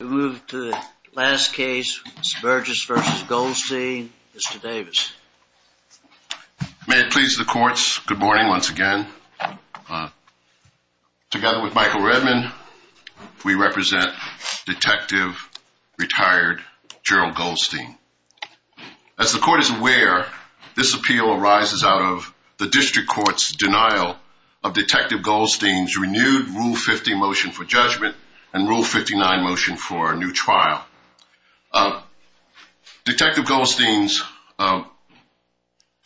We move to the last case, Mr. Burgess v. Goldstein. Mr. Davis. May it please the courts. Good morning once again. Together with Michael Redman, we represent Detective Retired Gerald Goldstein. As the court is aware, this appeal arises out of the district court's denial of Detective Goldstein's renewed Rule 50 motion for judgment and Rule 59 motion for a new trial. Detective Goldstein's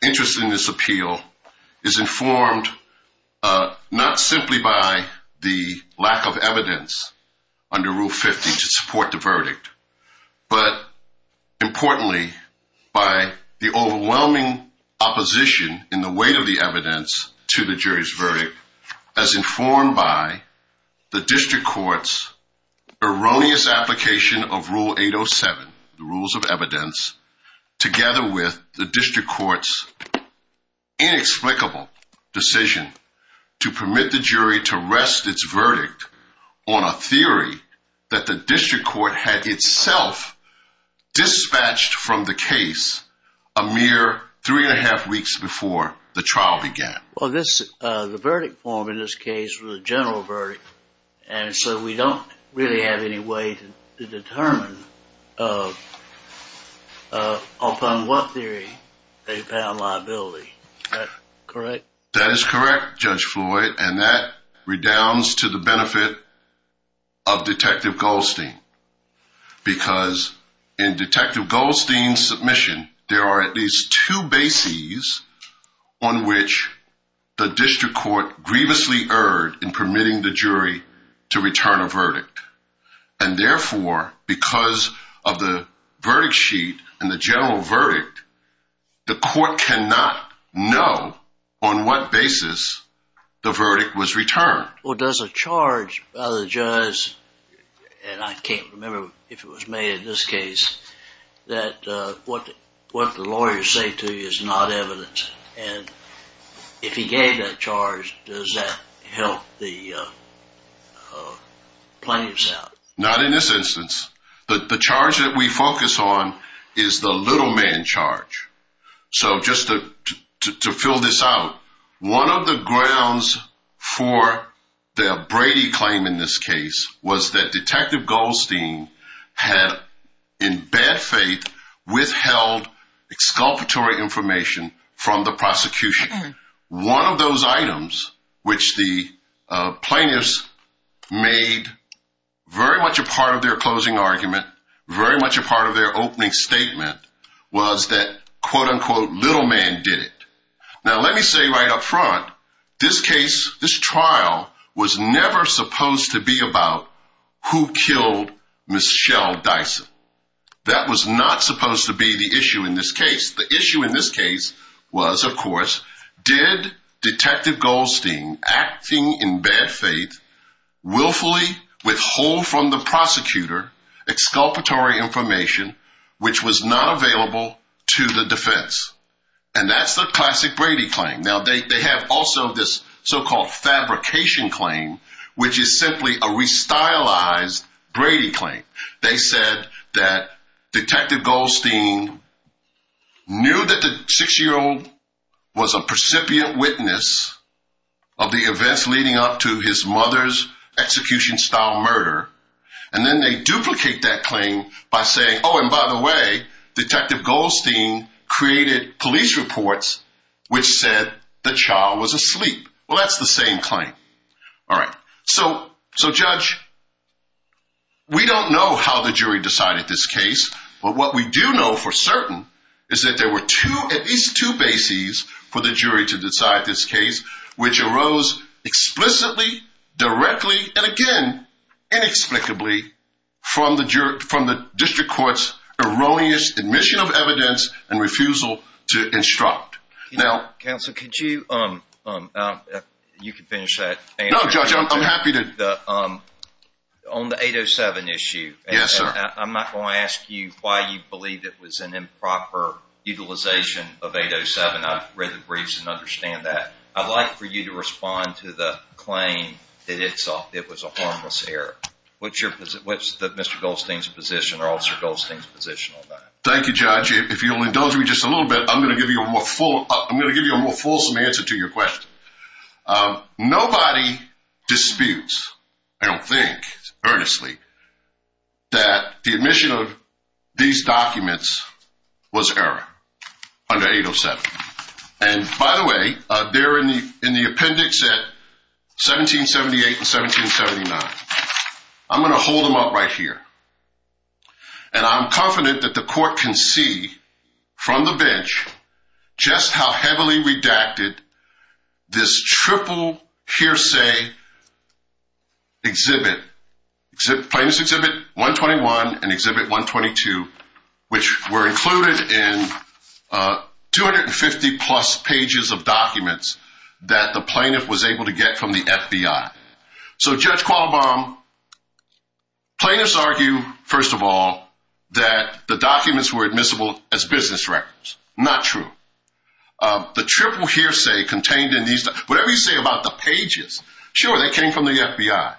interest in this appeal is informed not simply by the lack of evidence under Rule 50 to support the verdict, but importantly, by the overwhelming opposition in the weight of the evidence to the jury's erroneous application of Rule 807, the rules of evidence, together with the district court's inexplicable decision to permit the jury to rest its verdict on a theory that the district court had itself dispatched from the case a mere three and a half weeks before the trial began. Well, the verdict form in this case was a general verdict. And so we don't really have any way to determine upon what theory they found liability. Is that correct? That is correct, Judge Floyd. And that redounds to the benefit of Detective Goldstein. Because in Detective Goldstein's submission, there are at least two bases on which the district court grievously erred in permitting the jury to return a verdict. And therefore, because of the verdict sheet and the general verdict, the court cannot know on what basis the verdict was returned. Well, does a charge by the judge, and I can't remember if it was made in this case, that what the lawyers say to you is not evidence? And if he gave that to you, how do you plan yourself? Not in this instance. But the charge that we focus on is the little man charge. So just to fill this out, one of the grounds for the Brady claim in this case was that Detective Goldstein had, in bad faith, withheld exculpatory information from the prosecution. One of those items, which the plaintiffs made very much a part of their closing argument, very much a part of their opening statement, was that, quote unquote, little man did it. Now, let me say right up front, this case, this trial was never supposed to be about who killed Michelle Dyson. That was not supposed to be the issue in this case. The issue in this case was, of course, did Detective Goldstein acting in bad faith, willfully withhold from the prosecutor exculpatory information, which was not available to the defense? And that's the classic Brady claim. Now, they have also this so-called fabrication claim, which is knew that the six-year-old was a precipient witness of the events leading up to his mother's execution style murder. And then they duplicate that claim by saying, oh, and by the way, Detective Goldstein created police reports, which said the child was asleep. Well, that's the same claim. All right. So, so Judge, we don't know how the jury decided this case. But what we do know for certain, is that there were two, at least two bases for the jury to decide this case, which arose explicitly, directly, and again, inexplicably, from the district court's erroneous admission of evidence and refusal to instruct. Now, counsel, could you, um, you could finish that. No, Judge, I'm happy to. Um, on the 807 issue, I'm not going to ask you why you believe it was an improper utilization of 807. I've read the briefs and understand that. I'd like for you to respond to the claim that it was a harmless error. What's the Mr. Goldstein's position, or Officer Goldstein's position on that? Thank you, Judge. If you'll indulge me just a little bit, I'm going to give you a more full, I'm going to give you a more fulsome answer to your question. Um, nobody disputes, I don't think, earnestly, that the admission of these documents was error under 807. And by the way, they're in the, in the appendix at 1778 and 1779. I'm going to hold them up right here. And I'm confident that the court can see from the bench just how heavily redacted this triple hearsay exhibit, plaintiff's Exhibit 121 and Exhibit 122, which were included in, uh, 250 plus pages of documents that the plaintiff was able to get from the FBI. So Judge Qualbaum, plaintiffs argue, first of all, that the documents were admissible as business records. Not true. Uh, the triple hearsay contained in these, whatever you say about the pages, sure, they came from the FBI,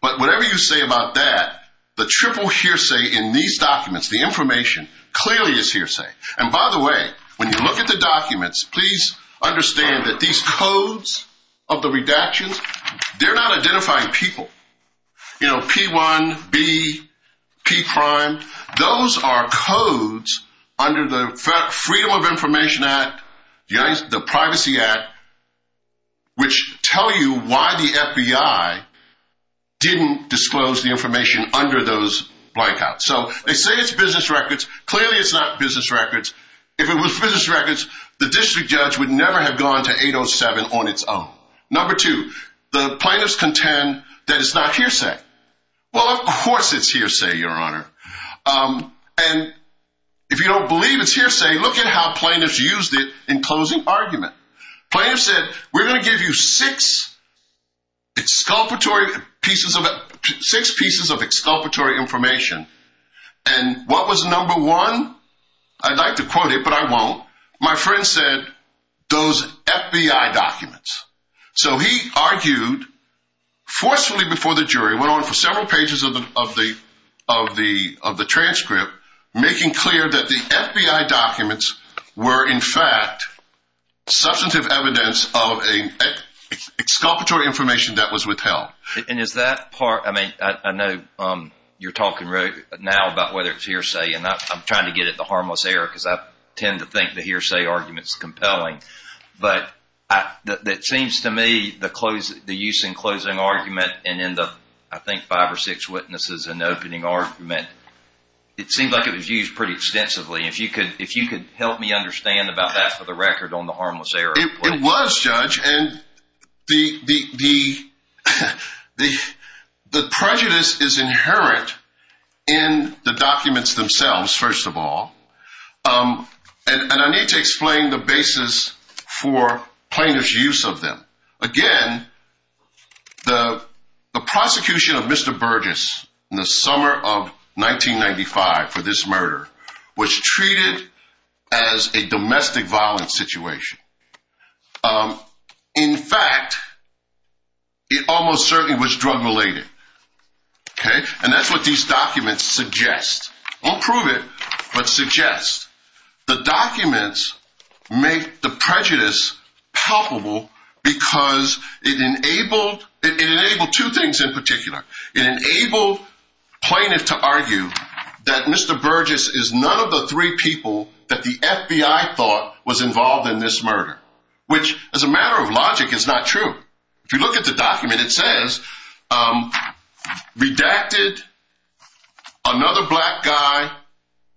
but whatever you say about that, the triple hearsay in these documents, the information clearly is hearsay. And by the way, when you look at the documents, please understand that these codes of the redactions, they're not identifying people. You know, P1, B, P prime, those are codes under the Freedom of Information Act, the Privacy Act, which tell you why the FBI didn't disclose the information under those blackouts. So they say it's business records. Clearly, it's not business records. If it was business records, the district judge would never have gone to 807 on its own. Number two, the plaintiffs contend that it's not hearsay. Well, of course it's hearsay, Your Honor. Um, and if you don't believe it's hearsay, look at how plaintiffs used it in closing argument. Plaintiff said, we're going to give you six exculpatory pieces of, six pieces of exculpatory information. And what was number one? I'd like to quote it, but I won't. My friend said, those FBI documents. So he argued forcefully before the jury, went on for several pages of the, of the, of the transcript, making clear that the FBI documents were in fact, substantive evidence of exculpatory information that was withheld. And is that part, I mean, I know, um, you're talking right now about whether it's hearsay and I'm trying to get at the harmless error. Cause I tend to think the hearsay argument is compelling, but I, that seems to me the close, the use in closing argument and in the, I think five or six witnesses in the opening argument, it seemed like it was used pretty extensively. If you could, if you could help me understand about that for the record on the harmless error. It was judge and the, the, the, the, the prejudice is inherent in the documents themselves, first of all. Um, and I need to explain the basis for plaintiff's use of them. Again, the, the prosecution of Mr. Burgess in the summer of 1995 for this murder was treated as a domestic violence situation. Um, in fact, it almost certainly was drug related. Okay. And that's what these documents suggest. I'll prove it, but suggest the documents make the prejudice palpable because it enabled it enabled two things in particular, it enabled plaintiff to believe that Mr. Burgess is none of the three people that the FBI thought was involved in this murder, which as a matter of logic is not true. If you look at the document, it says, um, redacted, another black guy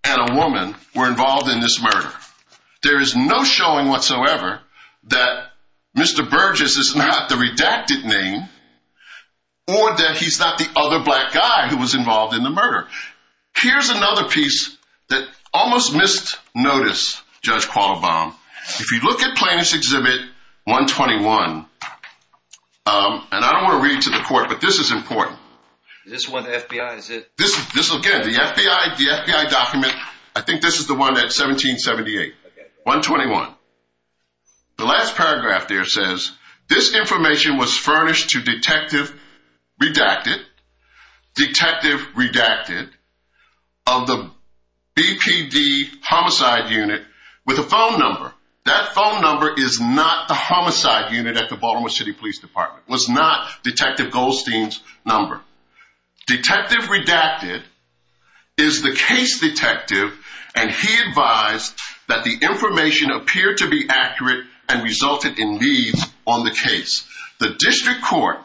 and a woman were involved in this murder. There is no showing whatsoever that Mr. Burgess is not the redacted name or that he's not the other black guy who was involved in the murder. Here's another piece that almost missed notice. Judge Paul Obama. If you look at plaintiff's exhibit 121, um, and I don't want to read to the court, but this is important. This one, the FBI, is it this, this, again, the FBI, the FBI document. I think this is the one that 1778, 121. The last paragraph there says this information was furnished to detective redacted detective redacted of the BPD homicide unit with a phone number. That phone number is not the homicide unit at the Baltimore City Police Department was not detective Goldstein's number. Detective redacted is the case detective, and he advised that the information appeared to be accurate and the district court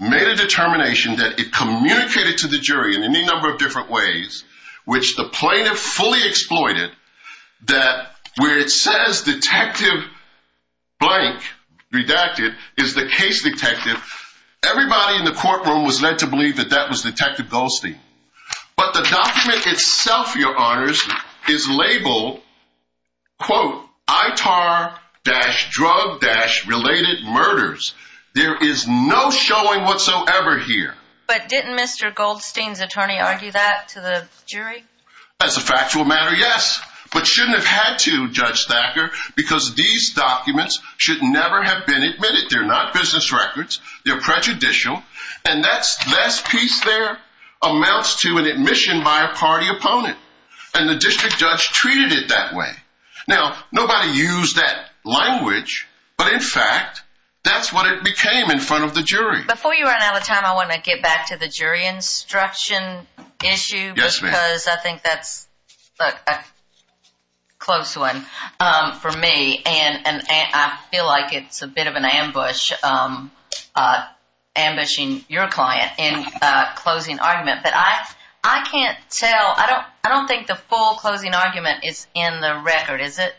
made a determination that it communicated to the jury in any number of different ways, which the plaintiff fully exploited that where it says detective blank redacted is the case detective. Everybody in the courtroom was led to believe that that was detective Goldstein, but the is no showing whatsoever here. But didn't Mr Goldstein's attorney argue that to the jury? As a factual matter? Yes, but shouldn't have had to judge Thacker because these documents should never have been admitted. They're not business records. They're prejudicial, and that's less piece there amounts to an admission by a party opponent, and the district judge treated it that way. Now, nobody used that language, but in fact, that's what it became in front of the jury. Before you run out of time, I want to get back to the jury instruction issue, because I think that's close one for me, and I feel like it's a bit of an ambush, ambushing your client in closing argument. But I can't tell. I don't think the full closing argument is in the record, is it?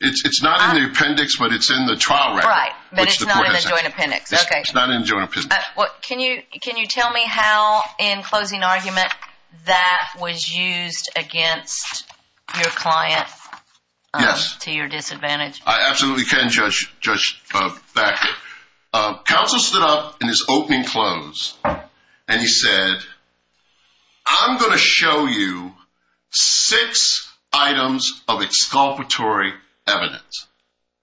It's not in the appendix, but it's in the trial record. Right, but it's not in the joint appendix. Okay, it's not in the joint appendix. Can you tell me how in closing argument that was used against your client to your disadvantage? I absolutely can, Judge Thacker. Counsel stood up in his opening close, and he said, I'm going to show you six items of exculpatory evidence.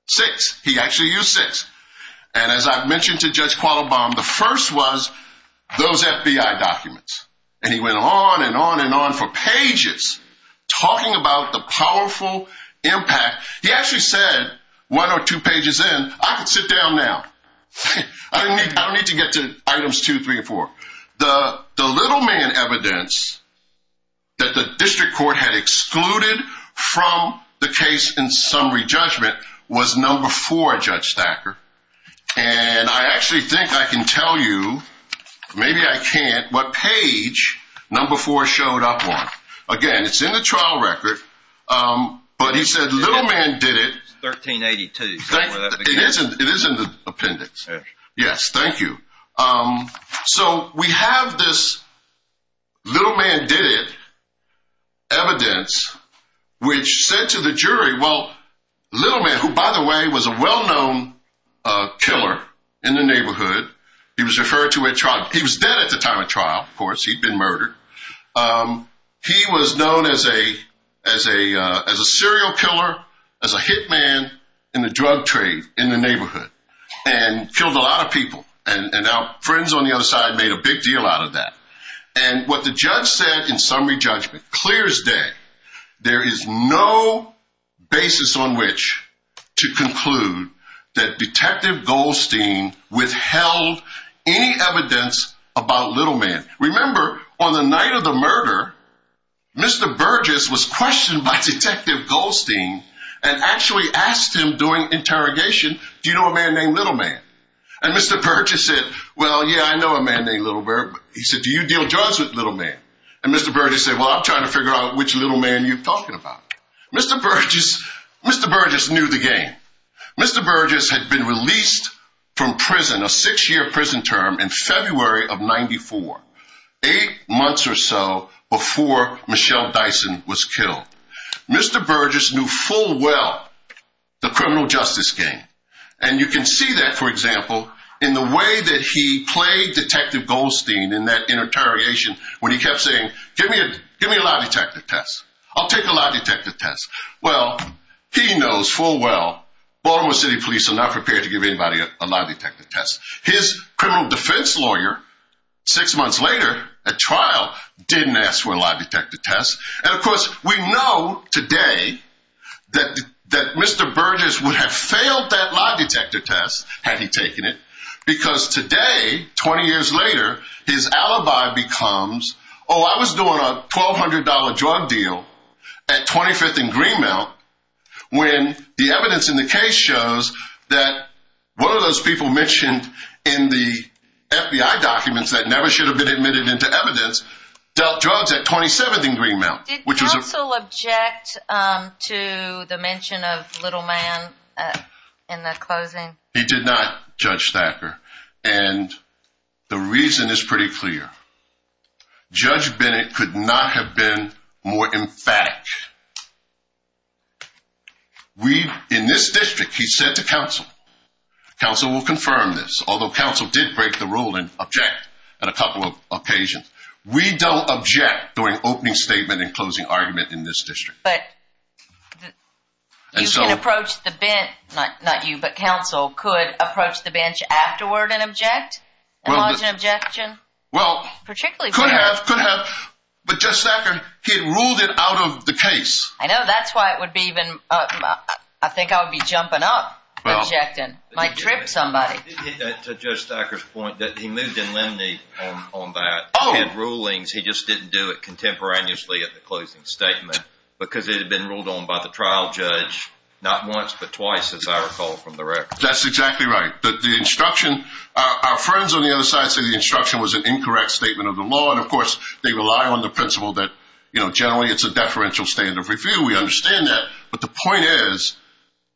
Six. He actually used six, and as I've mentioned to Judge Qualabom, the first was those FBI documents, and he went on and on and on for pages talking about the powerful impact. He actually said one or two pages in, I can sit down now. I don't need to get to items two, three, and four. The little man evidence that the district court had excluded from the case in summary judgment was number four, Judge Thacker, and I actually think I can tell you, maybe I can't, what page number four showed up on. Again, it's in the trial record, but he Yes, thank you. So we have this little man did it evidence, which said to the jury, well, little man, who, by the way, was a well known killer in the neighborhood. He was referred to a trial. He was dead at the time of trial. Of course, he'd been murdered. He was known as a serial killer, as a hit man in the drug trade in the neighborhood, and killed a lot of people, and our friends on the other side made a big deal out of that. And what the judge said in summary judgment, clear as day, there is no basis on which to conclude that Detective Goldstein withheld any evidence about little man. Remember, on the night of the murder, Mr. Burgess was questioned by Detective Goldstein and actually asked him during interrogation, do you know a man named little man? And Mr. Burgess said, well, yeah, I know a man named little man. He said, do you deal drugs with little man? And Mr. Burgess said, well, I'm trying to figure out which little man you're talking about. Mr. Burgess knew the game. Mr. Burgess had been released from prison, a six year prison term in February of 94, eight months or so before Michelle Dyson was killed. Mr. Burgess knew full well the criminal justice game. And you can see that, for example, in the way that he played Detective Goldstein in that interrogation, when he kept saying, give me a lie detector test. I'll take a lie detector test. Well, he knows full well Baltimore City Police are not prepared to give anybody a lie detector test. His criminal defense lawyer, six months later at trial, didn't ask for a that Mr. Burgess would have failed that lie detector test, had he taken it. Because today, 20 years later, his alibi becomes, oh, I was doing a $1,200 drug deal at 25th and Greenmount, when the evidence in the case shows that one of those people mentioned in the FBI documents that never should have been admitted into evidence, dealt drugs at 27th and Greenmount. Did counsel object to the mention of little man in the closing? He did not, Judge Thacker. And the reason is pretty clear. Judge Bennett could not have been more emphatic. We, in this district, he said to counsel, counsel will confirm this, although counsel did break the rule and object at a couple of closing argument in this district. But you can approach the bench, not you, but counsel could approach the bench afterward and object, lodge an objection? Well, could have, but Judge Thacker, he had ruled it out of the case. I know, that's why it would be even, I think I would be jumping up, objecting, might trip somebody. To Judge Thacker's point that he moved in Lemney on that. He had rulings, he just didn't do it contemporaneously at the closing statement because it had been ruled on by the trial judge, not once, but twice, as I recall from the record. That's exactly right. The instruction, our friends on the other side say the instruction was an incorrect statement of the law. And of course, they rely on the principle that, you know, generally it's a deferential standard of review. We understand that. But the point is,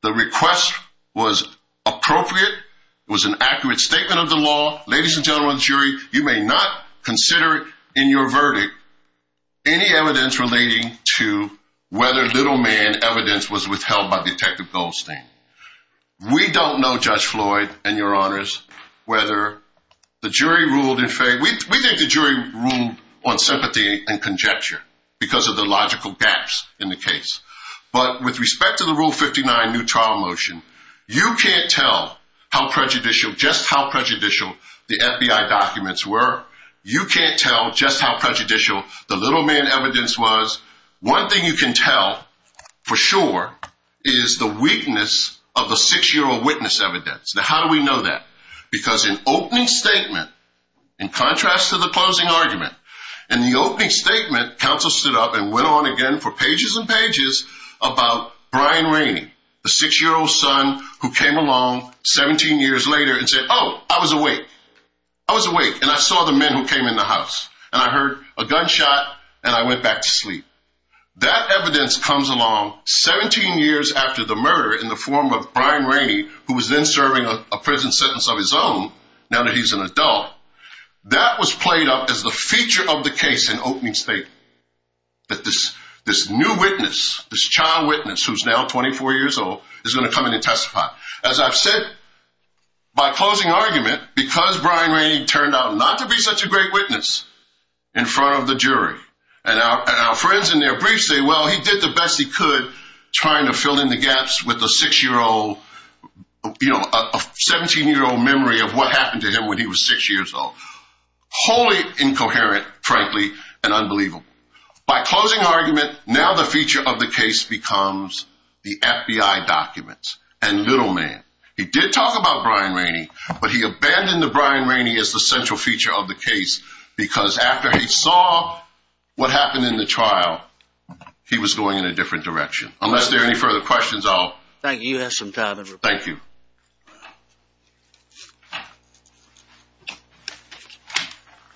the request was appropriate, was an accurate statement of the law. Ladies and gentlemen of the jury, you may not consider in your verdict any evidence relating to whether little man evidence was withheld by Detective Goldstein. We don't know, Judge Floyd and your honors, whether the jury ruled in fact, we think the jury ruled on sympathy and conjecture because of the logical gaps in the case. But with respect to the Rule 59 new trial motion, you can't tell how prejudicial, just how prejudicial the FBI documents were. You can't tell just how prejudicial the little man evidence was. One thing you can tell for sure is the weakness of the six year old witness evidence. Now, how do we know that? Because in opening statement, in contrast to the closing argument, in the opening statement, counsel stood up and went on again for the man who came along 17 years later and said, Oh, I was awake. I was awake. And I saw the men who came in the house and I heard a gunshot and I went back to sleep. That evidence comes along 17 years after the murder in the form of Brian Rainey, who was then serving a prison sentence of his own, now that he's an adult. That was played up as the feature of the case in opening statement. That this new witness, this child witness, who's now 24 years old, is going to come in and testify. As I've said, by closing argument, because Brian Rainey turned out not to be such a great witness in front of the jury and our friends in their briefs say, well, he did the best he could trying to fill in the gaps with a six year old, you know, a 17 year old memory of what happened to him when he was six years old. Wholly incoherent, frankly, and unbelievable. By closing argument, now the feature of the case becomes the FBI documents and little man. He did talk about Brian Rainey, but he abandoned the Brian Rainey as the central feature of the case because after he saw what happened in the trial, he was going in a different direction. Unless there are any further questions, I'll... Thank you. You have some time. Thank you.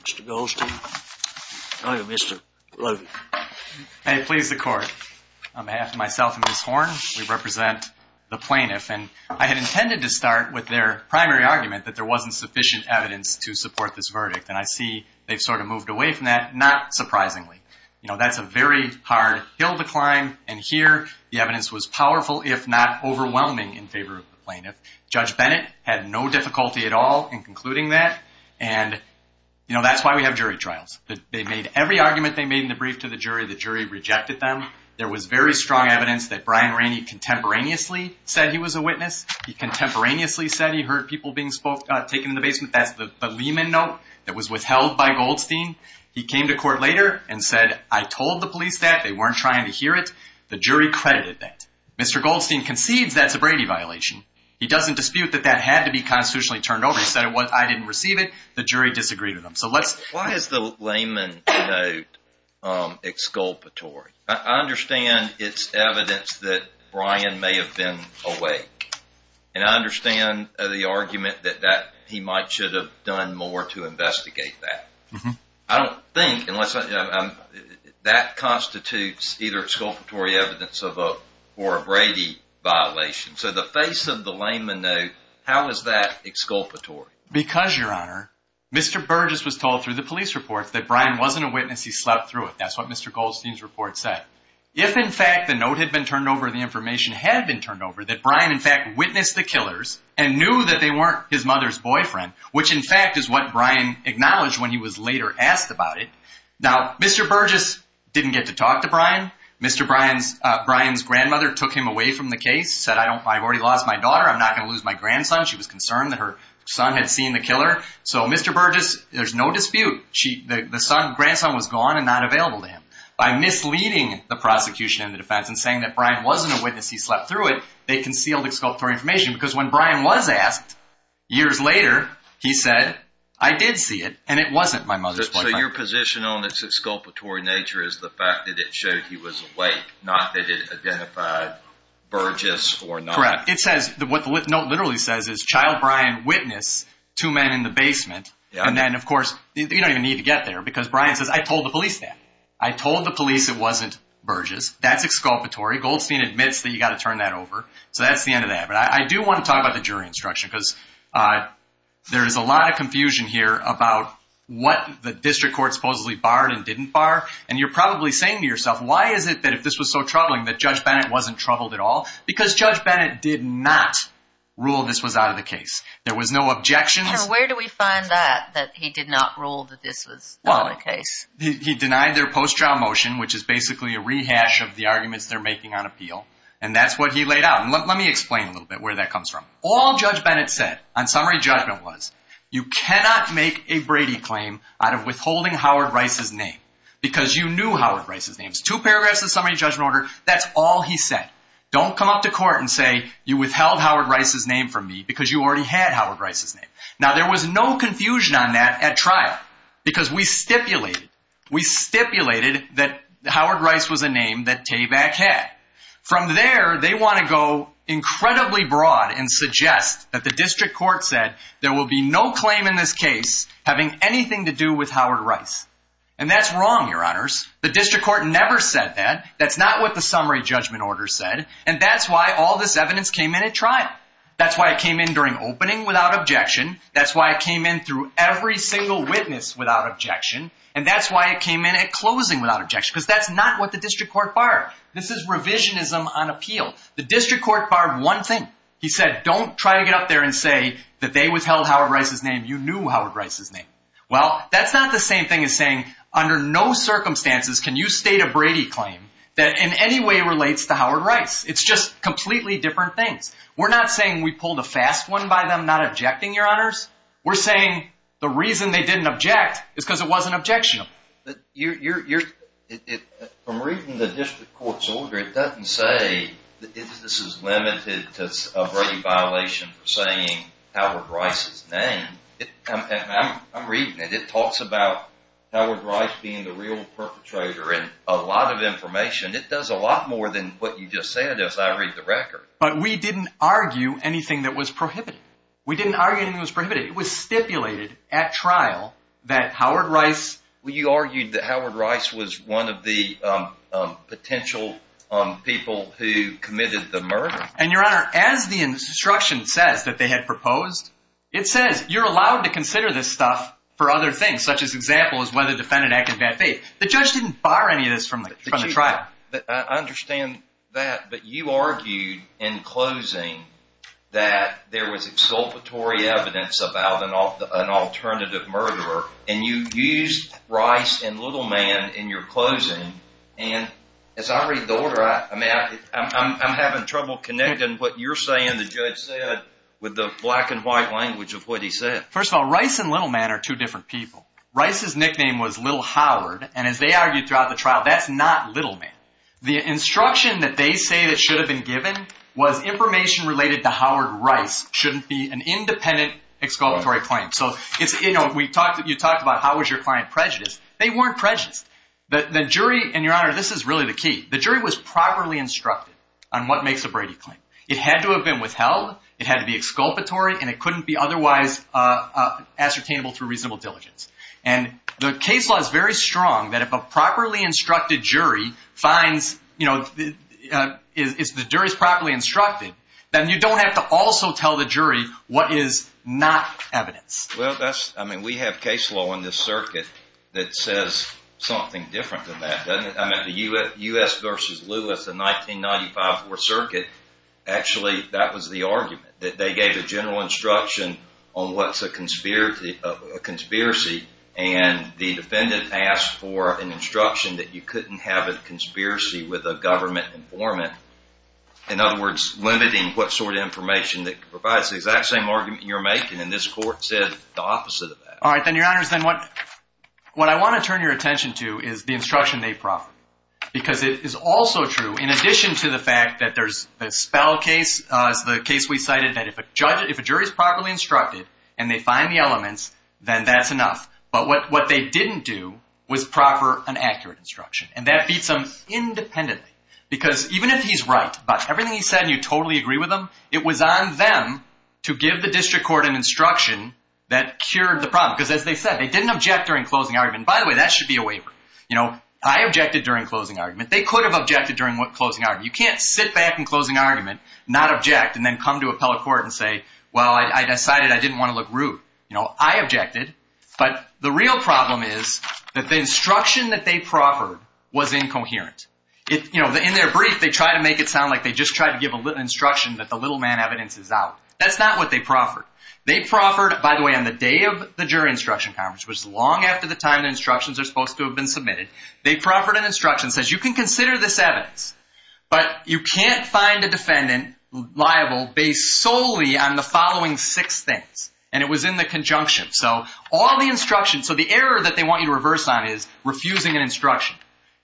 Mr. Goldstein. Go ahead, Mr. Goldstein. May it please the court, on behalf of myself and Ms. Horn, we represent the plaintiff. And I had intended to start with their primary argument that there wasn't sufficient evidence to support this verdict. And I see they've sort of moved away from that, not surprisingly. You know, that's a very hard hill to climb. And here the evidence was powerful, if not overwhelming, in favor of the plaintiff. Judge Bennett had no difficulty at all in concluding that. And, you know, that's why we have jury trials. They made every argument they made in the brief to the jury, the jury rejected them. There was very strong evidence that Brian Rainey contemporaneously said he was a witness. He contemporaneously said he heard people being spoken, taken in the basement. That's the Lehman note that was withheld by Goldstein. He came to court later and said, I told the police that, they weren't trying to hear it. The jury credited that. Mr. Goldstein concedes that's a Brady violation. He doesn't dispute that that had to be constitutionally turned over. He said I didn't receive it. The jury disagreed with him. So why is the Lehman note exculpatory? I understand it's evidence that Brian may have been awake. And I understand the argument that he might should have done more to investigate that. I don't think, that constitutes either exculpatory evidence or a Brady violation. So the face of the Lehman note, how is that because your honor, Mr. Burgess was told through the police report that Brian wasn't a witness. He slept through it. That's what Mr. Goldstein's report said. If in fact the note had been turned over, the information had been turned over, that Brian in fact witnessed the killers and knew that they weren't his mother's boyfriend, which in fact is what Brian acknowledged when he was later asked about it. Now, Mr. Burgess didn't get to talk to Brian. Mr. Brian's, Brian's grandmother took him away from the case, said, I don't, I've already lost my daughter. I'm not going to lose my grandson. She was concerned that her son had seen the killer. So Mr. Burgess, there's no dispute. She, the son, grandson was gone and not available to him. By misleading the prosecution and the defense and saying that Brian wasn't a witness, he slept through it, they concealed exculpatory information because when Brian was asked years later, he said, I did see it and it wasn't my mother's boyfriend. So your position on its exculpatory nature is the fact that it showed he was awake, not that it identified Burgess or not. Correct. It says that what the note literally says is child Brian witness two men in the basement. And then of course you don't even need to get there because Brian says, I told the police that. I told the police it wasn't Burgess. That's exculpatory. Goldstein admits that you got to turn that over. So that's the end of that. But I do want to talk about the jury instruction because there is a lot of confusion here about what the district court supposedly barred and didn't bar. And you're probably saying to yourself, why is it that if this was so troubling that Judge Bennett wasn't troubled at all? Because Judge Bennett did not rule this was out of the case. There was no objections. Where do we find that? That he did not rule that this was the case. He denied their post trial motion, which is basically a rehash of the arguments they're making on appeal. And that's what he laid out. And let me explain a little bit where that comes from. All Judge Bennett said on summary judgment was you cannot make a Brady claim out of withholding Howard Rice's names. Two paragraphs of summary judgment order. That's all he said. Don't come up to court and say you withheld Howard Rice's name from me because you already had Howard Rice's name. Now, there was no confusion on that at trial because we stipulated we stipulated that Howard Rice was a name that Tabak had. From there, they want to go incredibly broad and suggest that the district court said there will be no claim in this case having anything to never said that. That's not what the summary judgment order said. And that's why all this evidence came in at trial. That's why it came in during opening without objection. That's why it came in through every single witness without objection. And that's why it came in at closing without objection, because that's not what the district court barred. This is revisionism on appeal. The district court barred one thing. He said, don't try to get up there and say that they withheld Howard Rice's name. You knew Howard Rice's name. Well, that's not the same thing as saying under no circumstances can you state a Brady claim that in any way relates to Howard Rice. It's just completely different things. We're not saying we pulled a fast one by them not objecting your honors. We're saying the reason they didn't object is because it wasn't objectionable. But from reading the district court's order, it doesn't say that this is limited to a Brady violation for saying Howard Rice's name. I'm reading it. It talks about Howard Rice being the real perpetrator and a lot of information. It does a lot more than what you just said as I read the record. But we didn't argue anything that was prohibited. We didn't argue anything that was prohibited. It was stipulated at trial that Howard Rice... Well, you argued that Howard Rice was one of the potential people who committed the murder. And your honor, as the instruction says that they had proposed, it says you're allowed to consider this stuff for other things such as example as whether defendant acted in bad faith. The judge didn't bar any of this from the trial. I understand that. But you argued in closing that there was exculpatory evidence about an alternative murderer. And you used Rice and Little Man in your closing. And as I read the order, I'm having trouble connecting what you're saying the judge said with the black and white language of what he said. First of all, Rice and Little Man are two different people. Rice's nickname was Little Howard. And as they argued throughout the trial, that's not Little Man. The instruction that they say that should have been given was information related to Howard Rice shouldn't be an independent exculpatory claim. So, you know, you talked about how was your client prejudiced. They weren't prejudiced. The jury, and your honor, this is really the key. The jury was properly instructed on what makes a Brady claim. It had to have been withheld. It had to be exculpatory. And it couldn't be otherwise ascertainable through reasonable diligence. And the case law is very strong that if a properly instructed jury finds, you know, if the jury is properly instructed, then you don't have to also tell the jury what is not evidence. Well, that's, I mean, we have case law in this circuit that says something different than that, doesn't it? I mean, the U.S. v. Lewis in 1995 Fourth Circuit, actually, that was the argument. That they gave a general instruction on what's a conspiracy. And the defendant asked for an instruction that you couldn't have a conspiracy with a government informant. In other words, limiting what sort of information that provides. The exact same argument you're making. And this court said the opposite of that. All right, then, your honors, then what I want to turn your attention to is the instruction they proffered. Because it is also true, in addition to the fact that there's the Spell case, the case we cited, that if a jury is properly instructed and they find the elements, then that's enough. But what they didn't do was proffer an accurate instruction. And that beats them independently. Because even if he's right about everything he said and you totally agree with him, it was on them to give the district court an instruction that cured the problem. Because as they said, they didn't object during closing argument. By the way, that should be a waiver. You know, I objected during closing argument. They could have objected during closing argument. You can't sit back in closing argument, not object, and then come to appellate court and say, well, I decided I didn't want to look rude. You know, I objected. But the real problem is that the instruction that they proffered was incoherent. In their brief, they try to make it sound like they just tried to give an instruction that the little man evidence is out. That's not what they proffered. They proffered, by the way, on the day of the time the instructions are supposed to have been submitted, they proffered an instruction that says you can consider this evidence, but you can't find a defendant liable based solely on the following six things. And it was in the conjunction. So all the instructions, so the error that they want you to reverse on is refusing an instruction.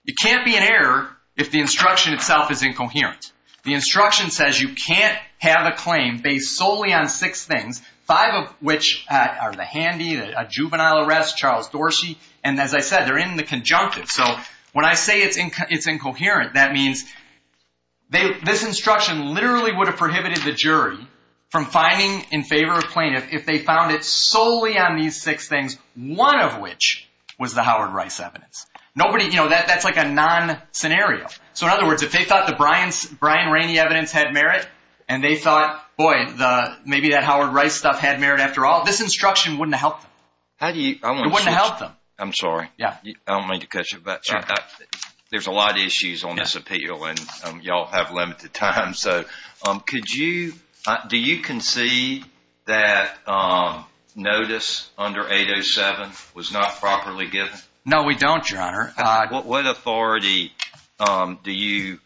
It can't be an error if the instruction itself is incoherent. The instruction says you can't have a claim based solely on six things, five of which are the Handy, the juvenile arrest, Charles Dorsey, and as I said, they're in the conjunctive. So when I say it's incoherent, that means this instruction literally would have prohibited the jury from finding in favor of plaintiff if they found it solely on these six things, one of which was the Howard Rice evidence. Nobody, you know, that's like a non-scenario. So in other words, if they thought the Brian Rainey evidence had merit and they thought, boy, maybe that Howard Rice stuff had merit after all, this instruction wouldn't have helped them. It wouldn't have helped them. I'm sorry. Yeah. I don't mean to cut you but there's a lot of issues on this appeal and y'all have limited time. So could you, do you concede that notice under 807 was not properly given? No, we don't, your honor. What authority do you,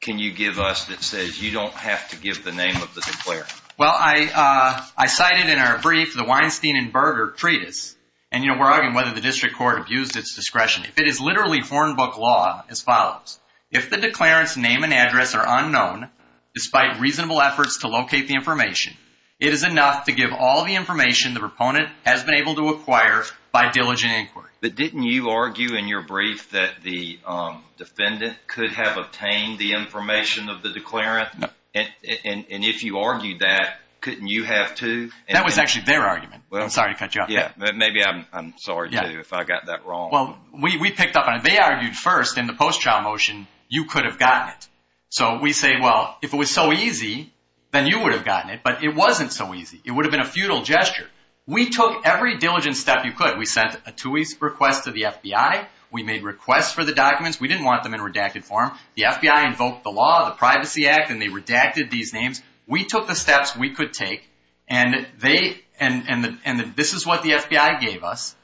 can you give us that says you don't have to give the name of the declarant? Well, I cited in our brief the Weinstein and Berger treatise and, you know, we're arguing whether the district court abused its discretion. If it is literally foreign book law as follows, if the declarant's name and address are unknown, despite reasonable efforts to locate the information, it is enough to give all the information the proponent has been able to acquire by diligent inquiry. But didn't you argue in your brief that the defendant could have obtained the information of the declarant? And if you argued that, couldn't you have too? That was actually their argument. I'm sorry to cut you off. Yeah. Maybe I'm, I'm sorry to tell you if I got that wrong. Well, we, we picked up on it. They argued first in the post-trial motion, you could have gotten it. So we say, well, if it was so easy, then you would have gotten it, but it wasn't so easy. It would have been a futile gesture. We took every diligent step you could. We sent a two weeks request to the FBI. We made requests for the documents. We didn't want them in redacted form. The FBI invoked the law, the Privacy Act, and they redacted these names. We took the steps we could take and they, and, and the, and the, this is what the FBI gave us.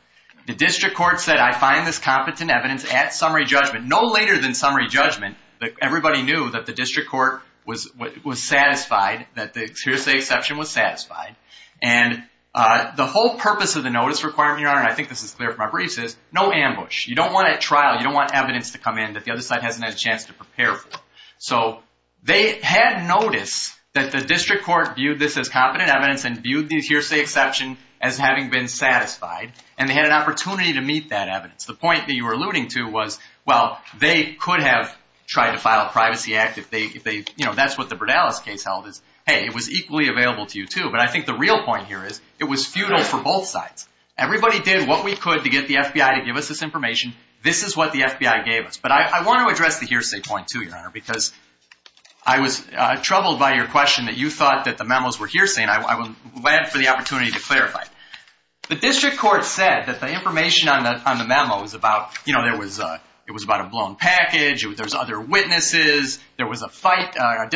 The district court said, I find this competent evidence at summary judgment, no later than summary judgment that everybody knew that the district court was, was satisfied that the exercise exception was satisfied. And, uh, the whole purpose of the notice requirement, Your Honor, and I think this is clear from our briefs, is no ambush. You don't want a trial. You don't want evidence to come in that the had noticed that the district court viewed this as competent evidence and viewed these hearsay exception as having been satisfied. And they had an opportunity to meet that evidence. The point that you were alluding to was, well, they could have tried to file a Privacy Act if they, if they, you know, that's what the Berdalles case held is, Hey, it was equally available to you too. But I think the real point here is it was futile for both sides. Everybody did what we could to get the FBI to give us this information. This is what the FBI gave us. But I want to address the hearsay point too, because I was troubled by your question that you thought that the memos were hearsay. And I will, I will wait for the opportunity to clarify. The district court said that the information on the, on the memo is about, you know, there was a, it was about a blown package. There's other witnesses. There was a fight, uh,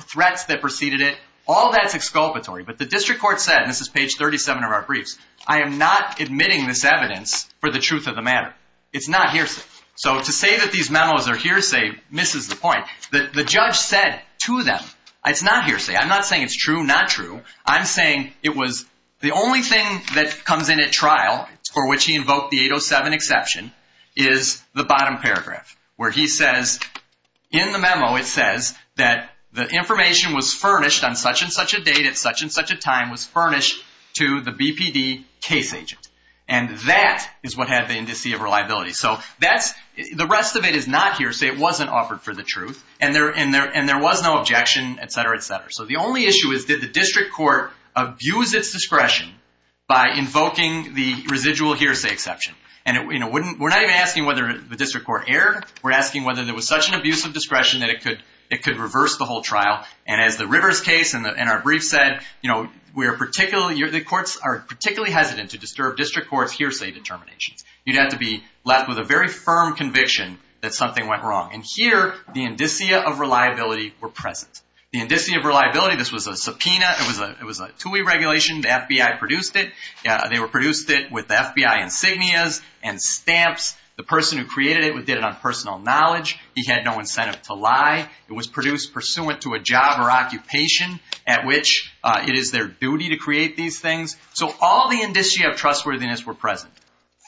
threats that preceded it. All that's exculpatory. But the district court said, and this is page 37 of our briefs, I am not admitting this evidence for the truth of the matter. It's not hearsay. So to say that these memos are hearsay misses the point that the judge said to them, it's not hearsay. I'm not saying it's true, not true. I'm saying it was the only thing that comes in at trial for which he invoked the 807 exception is the bottom paragraph where he says in the memo, it says that the information was furnished on such and such a date at such and such a time was furnished to the BPD case agent. And that is what had the indice of reliability. So that's the rest of it is not hearsay. It wasn't offered for the truth and there, and there, and there was no objection, et cetera, et cetera. So the only issue is did the district court abuse its discretion by invoking the residual hearsay exception? And it wouldn't, we're not even asking whether the district court error, we're asking whether there was such an abuse of discretion that it could, it could reverse the whole trial. And as the Rivers case and our brief said, you know, we are particularly, the courts are particularly hesitant to disturb district court's hearsay determinations. You'd have to be left with a very firm conviction that something went wrong. And here the indicia of reliability were present. The indicia of reliability, this was a subpoena. It was a, it was a two-way regulation. The FBI produced it. They were produced it with FBI insignias and stamps. The person who created it did it on personal knowledge. He had no incentive to lie. It was produced pursuant to a job or occupation at which it is their duty to create these things. So all the indicia of trustworthiness were present.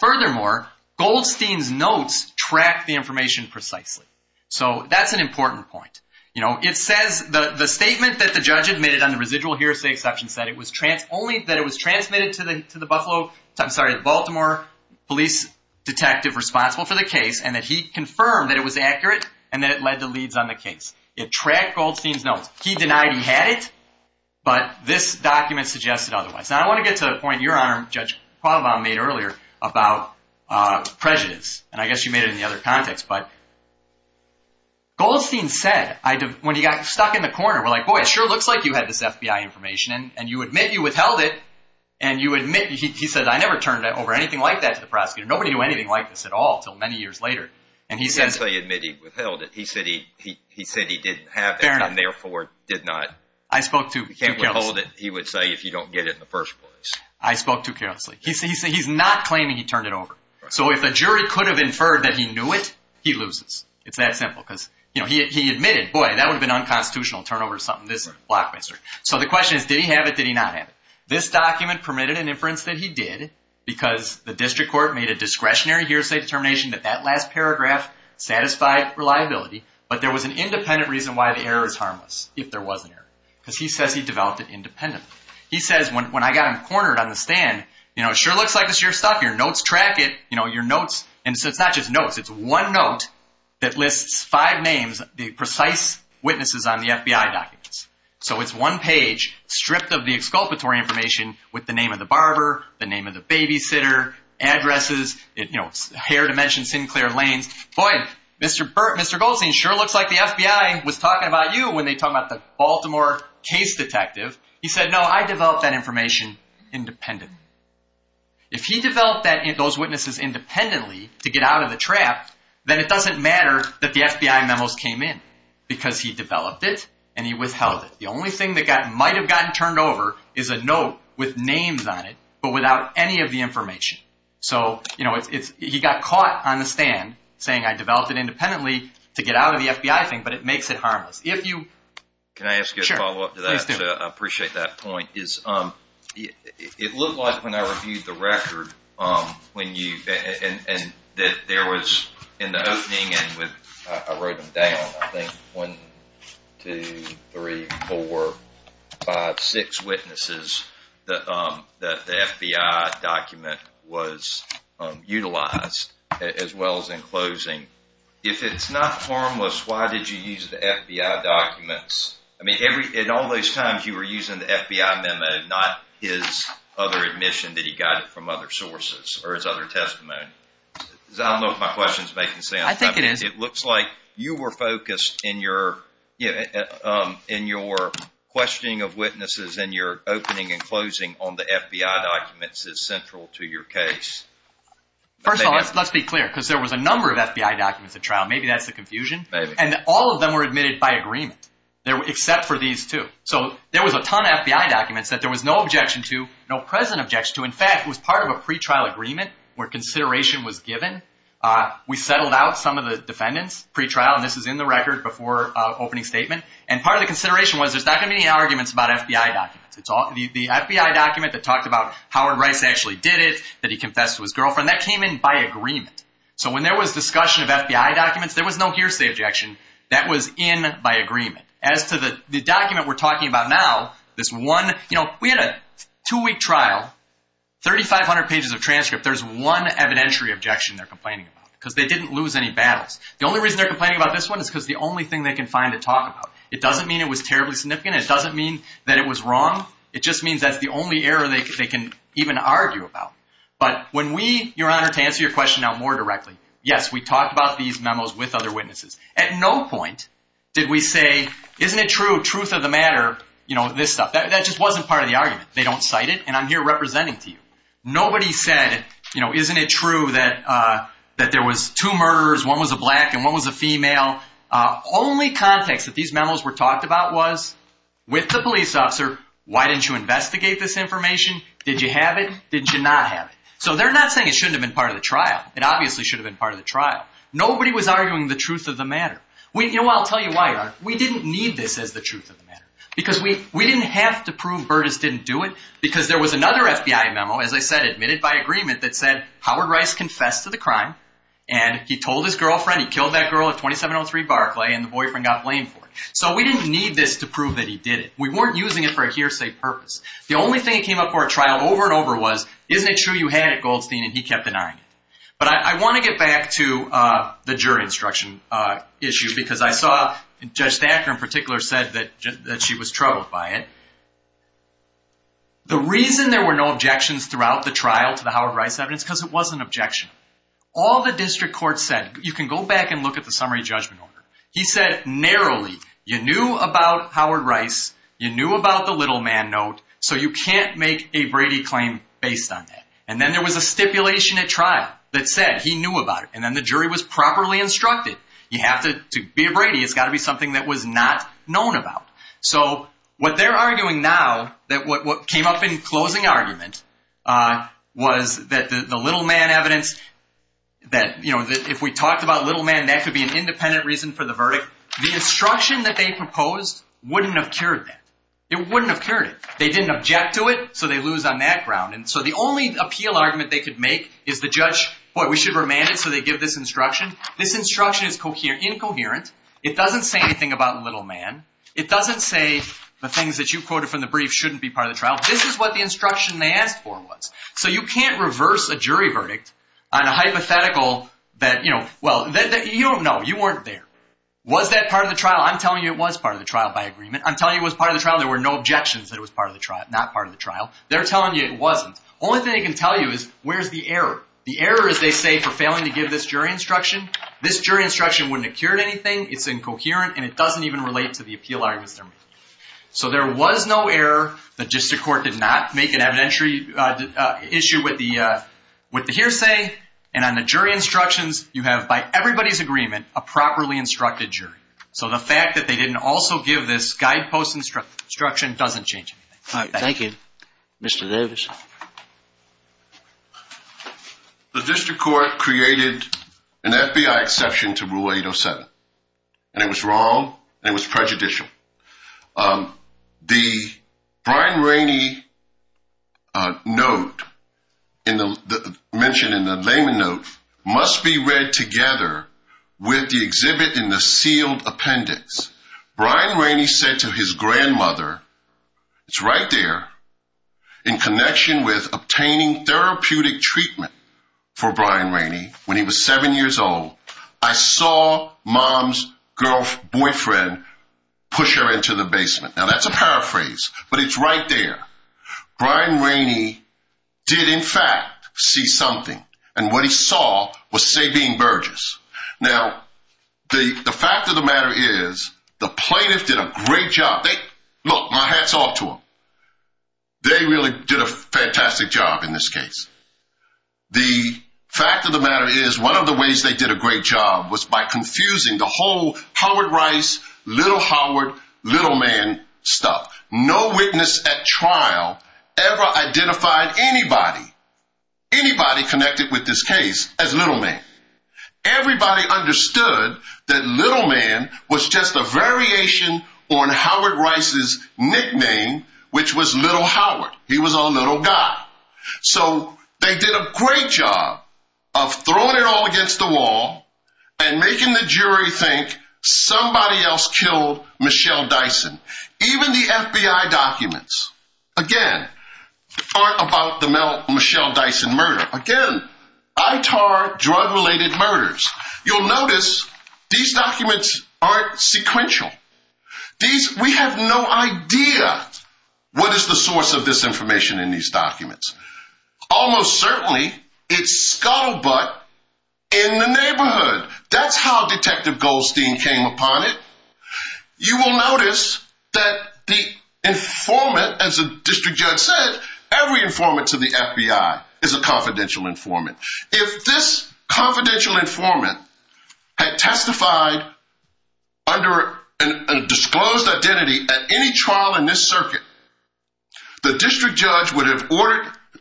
Furthermore, Goldstein's notes tracked the information precisely. So that's an important point. You know, it says the, the statement that the judge admitted on the residual hearsay exception said it was trans, only that it was transmitted to the, to the Buffalo, I'm sorry, the Baltimore police detective responsible for the case and that he confirmed that it was accurate and that it led to leads on the case. It tracked Goldstein's notes. He denied he had it, but this document suggested otherwise. Now I want to get to the point your prejudice, and I guess you made it in the other context, but Goldstein said, I, when he got stuck in the corner, we're like, boy, it sure looks like you had this FBI information and you admit you withheld it. And you admit, he said, I never turned it over anything like that to the prosecutor. Nobody knew anything like this at all until many years later. And he says, He didn't say he admitted he withheld it. He said he, he, he said he didn't have it and therefore did not. I spoke too carelessly. He can't withhold it, he would say if you don't get it in the first place. I spoke too carelessly. He's not claiming he turned it over. So if a jury could have inferred that he knew it, he loses. It's that simple because, you know, he admitted, boy, that would have been unconstitutional to turn over something this blockbuster. So the question is, did he have it? Did he not have it? This document permitted an inference that he did because the district court made a discretionary hearsay determination that that last paragraph satisfied reliability, but there was an independent reason why the error is harmless if there was an error. Because he says he developed it independently. He says, when I got him sure looks like this, your stuff, your notes, track it, you know, your notes. And so it's not just notes. It's one note that lists five names, the precise witnesses on the FBI documents. So it's one page stripped of the exculpatory information with the name of the barber, the name of the babysitter addresses, you know, hair dimensions, Sinclair lanes. Boy, Mr. Burt, Mr. Goldstein sure looks like the FBI was talking about you when they talk about the Baltimore case detective. He said, no, I developed that information independently. If he developed that, those witnesses independently to get out of the trap, then it doesn't matter that the FBI memos came in because he developed it and he withheld it. The only thing that got, might've gotten turned over is a note with names on it, but without any of the information. So, you know, it's, it's, he got caught on the stand saying, I developed it independently to get out of the FBI thing, but it makes it harmless. If it looked like when I reviewed the record, um, when you, and that there was in the opening and with, I wrote them down, I think one, two, three, four, five, six witnesses that, um, that the FBI document was, um, utilized as well as in closing. If it's not harmless, why did you use the FBI documents? I mean, every, in all those times you were using the FBI memo, not his other admission that he got it from other sources or his other testimony. I don't know if my question is making sense. I think it is. It looks like you were focused in your, you know, um, in your questioning of witnesses and your opening and closing on the FBI documents is central to your case. First of all, let's, let's be clear. Cause there was a number of FBI documents at trial. Maybe that's the confusion and all of them were admitted by agreement there except for these two. So there was a ton of FBI documents that there was no objection to, no present objection to. In fact, it was part of a pretrial agreement where consideration was given. Uh, we settled out some of the defendants pretrial, and this is in the record before, uh, opening statement. And part of the consideration was there's not gonna be any arguments about FBI documents. It's all the FBI document that talked about Howard Rice actually did it, that he confessed to his girlfriend that came in by agreement. So when there was discussion of FBI documents, there was no hearsay objection that was in by agreement. As to the document we're talking about now, this one, you know, we had a two week trial, 3500 pages of transcript. There's one evidentiary objection they're complaining about because they didn't lose any battles. The only reason they're complaining about this one is because the only thing they can find to talk about. It doesn't mean it was terribly significant. It doesn't mean that it was wrong. It just means that's the only error they can even argue about. But when we, Your Honor, to answer your question now more directly, yes, we talked about these memos with other witnesses. At no point did we say, isn't it true, truth of the matter, you know, this stuff. That just wasn't part of the argument. They don't cite it and I'm here representing to you. Nobody said, you know, isn't it true that there was two murderers, one was a black and one was a female. Only context that these memos were talked about was with the police officer, why didn't you investigate this information? Did you have it? Did you not have it? So they're not saying it shouldn't have been part of the trial. It obviously should have been part of the trial. Nobody was arguing the truth of the matter. Well, I'll tell you why, Your Honor. We didn't need this as the truth of the matter. Because we didn't have to prove Burtis didn't do it because there was another FBI memo, as I said, admitted by agreement that said Howard Rice confessed to the crime and he told his girlfriend, he killed that girl at 2703 Barclay and the boyfriend got blamed for it. So we didn't need this to prove that he did it. We weren't using it for a hearsay purpose. The only thing that came up for a trial over and over was, isn't it true you had it, Goldstein, and he kept denying it. But I saw Judge Thacker in particular said that she was troubled by it. The reason there were no objections throughout the trial to the Howard Rice evidence, because it wasn't objectionable. All the district courts said, you can go back and look at the summary judgment order. He said narrowly, you knew about Howard Rice, you knew about the little man note, so you can't make a Brady claim based on that. And then there was a stipulation at trial that said he knew about it. And then the jury was Brady, it's got to be something that was not known about. So what they're arguing now, that what came up in closing argument was that the little man evidence, that if we talked about little man, that could be an independent reason for the verdict. The instruction that they proposed wouldn't have cured that. It wouldn't have cured it. They didn't object to it, so they lose on that ground. And so the only appeal argument they could make is the judge, boy, we should remand it so they give this It doesn't say anything about little man. It doesn't say the things that you quoted from the brief shouldn't be part of the trial. This is what the instruction they asked for was. So you can't reverse a jury verdict on a hypothetical that, you know, well, you don't know, you weren't there. Was that part of the trial? I'm telling you it was part of the trial by agreement. I'm telling you it was part of the trial. There were no objections that it was part of the trial, not part of the trial. They're telling you it wasn't. Only thing they can tell you is, where's the error? The error is they say for failing to give this jury instruction, this jury instruction wouldn't have cured anything. It's incoherent, and it doesn't even relate to the appeal arguments they're making. So there was no error. The district court did not make an evidentiary issue with the hearsay. And on the jury instructions, you have, by everybody's agreement, a properly instructed jury. So the fact that they didn't also give this guidepost instruction doesn't change anything. Thank you. Mr. Davis. The district court created an FBI exception to Rule 807, and it was wrong, and it was prejudicial. The Brian Rainey note mentioned in the layman note must be read together with the exhibit in the sealed appendix. Brian Rainey said to his grandmother, it's right there, in connection with obtaining therapeutic treatment for Brian Rainey when he was seven years old, I saw mom's girlfriend, boyfriend, push her into the basement. Now, that's a paraphrase, but it's right there. Brian Rainey did, in fact, see something, and what he saw was Sabine Burgess. Now, the fact of the matter is the plaintiff did a great job. Look, my hat's off to them. They really did a fantastic job in this case. The fact of the matter is one of the ways they did a great job was by confusing the whole Howard Rice, little Howard, little man stuff. No witness at trial ever identified anybody, anybody connected with this case as little man. Everybody understood that little man was just a variation on Howard Rice's nickname, which was little Howard. He was a little guy. So they did a great job of throwing it all against the wall and making the jury think somebody else killed Michelle Dyson. Even the FBI documents, again, aren't about the Michelle Dyson murder. Again, ITAR drug-related murders. You'll notice these documents aren't sequential. We have no idea what is the source of this information in these documents. Almost certainly, it's scuttlebutt in the neighborhood. That's how Detective Goldstein came upon it. You will notice that the informant, as the district judge said, every informant to the FBI is a confidential informant. If this confidential informant had testified under a disclosed identity at any trial in this circuit, the district judge would have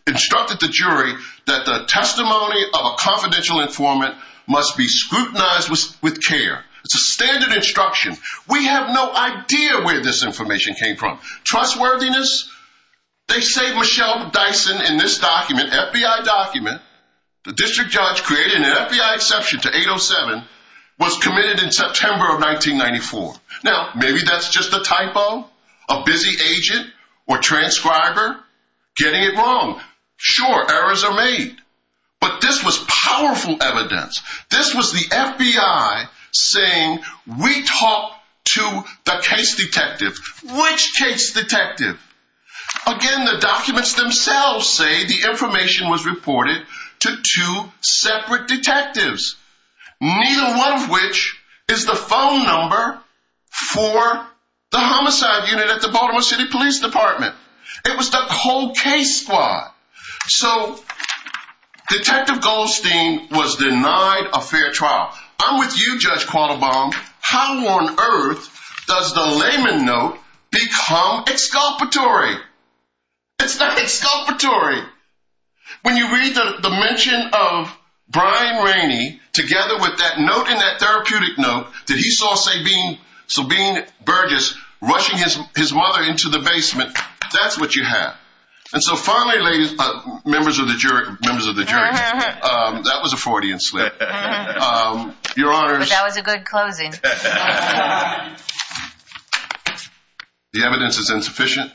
instructed the jury that the testimony of a confidential informant must be scrutinized with care. It's a standard instruction. We have no idea where this information came from. Trustworthiness, they say Michelle Dyson in this document, FBI document, the district judge created an FBI exception to 807, was committed in September of 1994. Now, maybe that's just a typo, a busy agent or transcriber getting it wrong. Sure, errors are made. But this was powerful evidence. This was the FBI saying, we talked to the case detective. Which case detective? Again, the documents themselves say the information was reported to two separate detectives. Neither one of which is the phone number for the homicide unit at the Baltimore City Police Department. It was the whole case squad. So Detective Goldstein was denied a fair trial. I'm with you, Judge Quattlebaum. How on earth does the layman note become exculpatory? It's not exculpatory. When you read the mention of Brian Rainey, together with that note in that therapeutic note that he saw Sabine Burgess rushing his mother into the basement, that's what you have. And so finally, ladies, members of the jury, that was a Freudian slip. Your Honor, that was a good closing. The evidence is insufficient.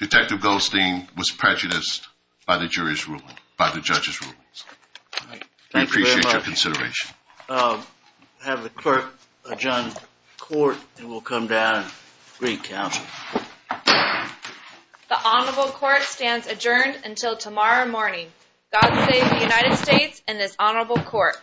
Detective Goldstein was prejudiced by the jury's ruling, by the judge's rulings. We appreciate your consideration. Have the clerk adjourn court and we'll come down and read counsel. The Honorable Court stands adjourned until tomorrow morning. God save the Honorable Court.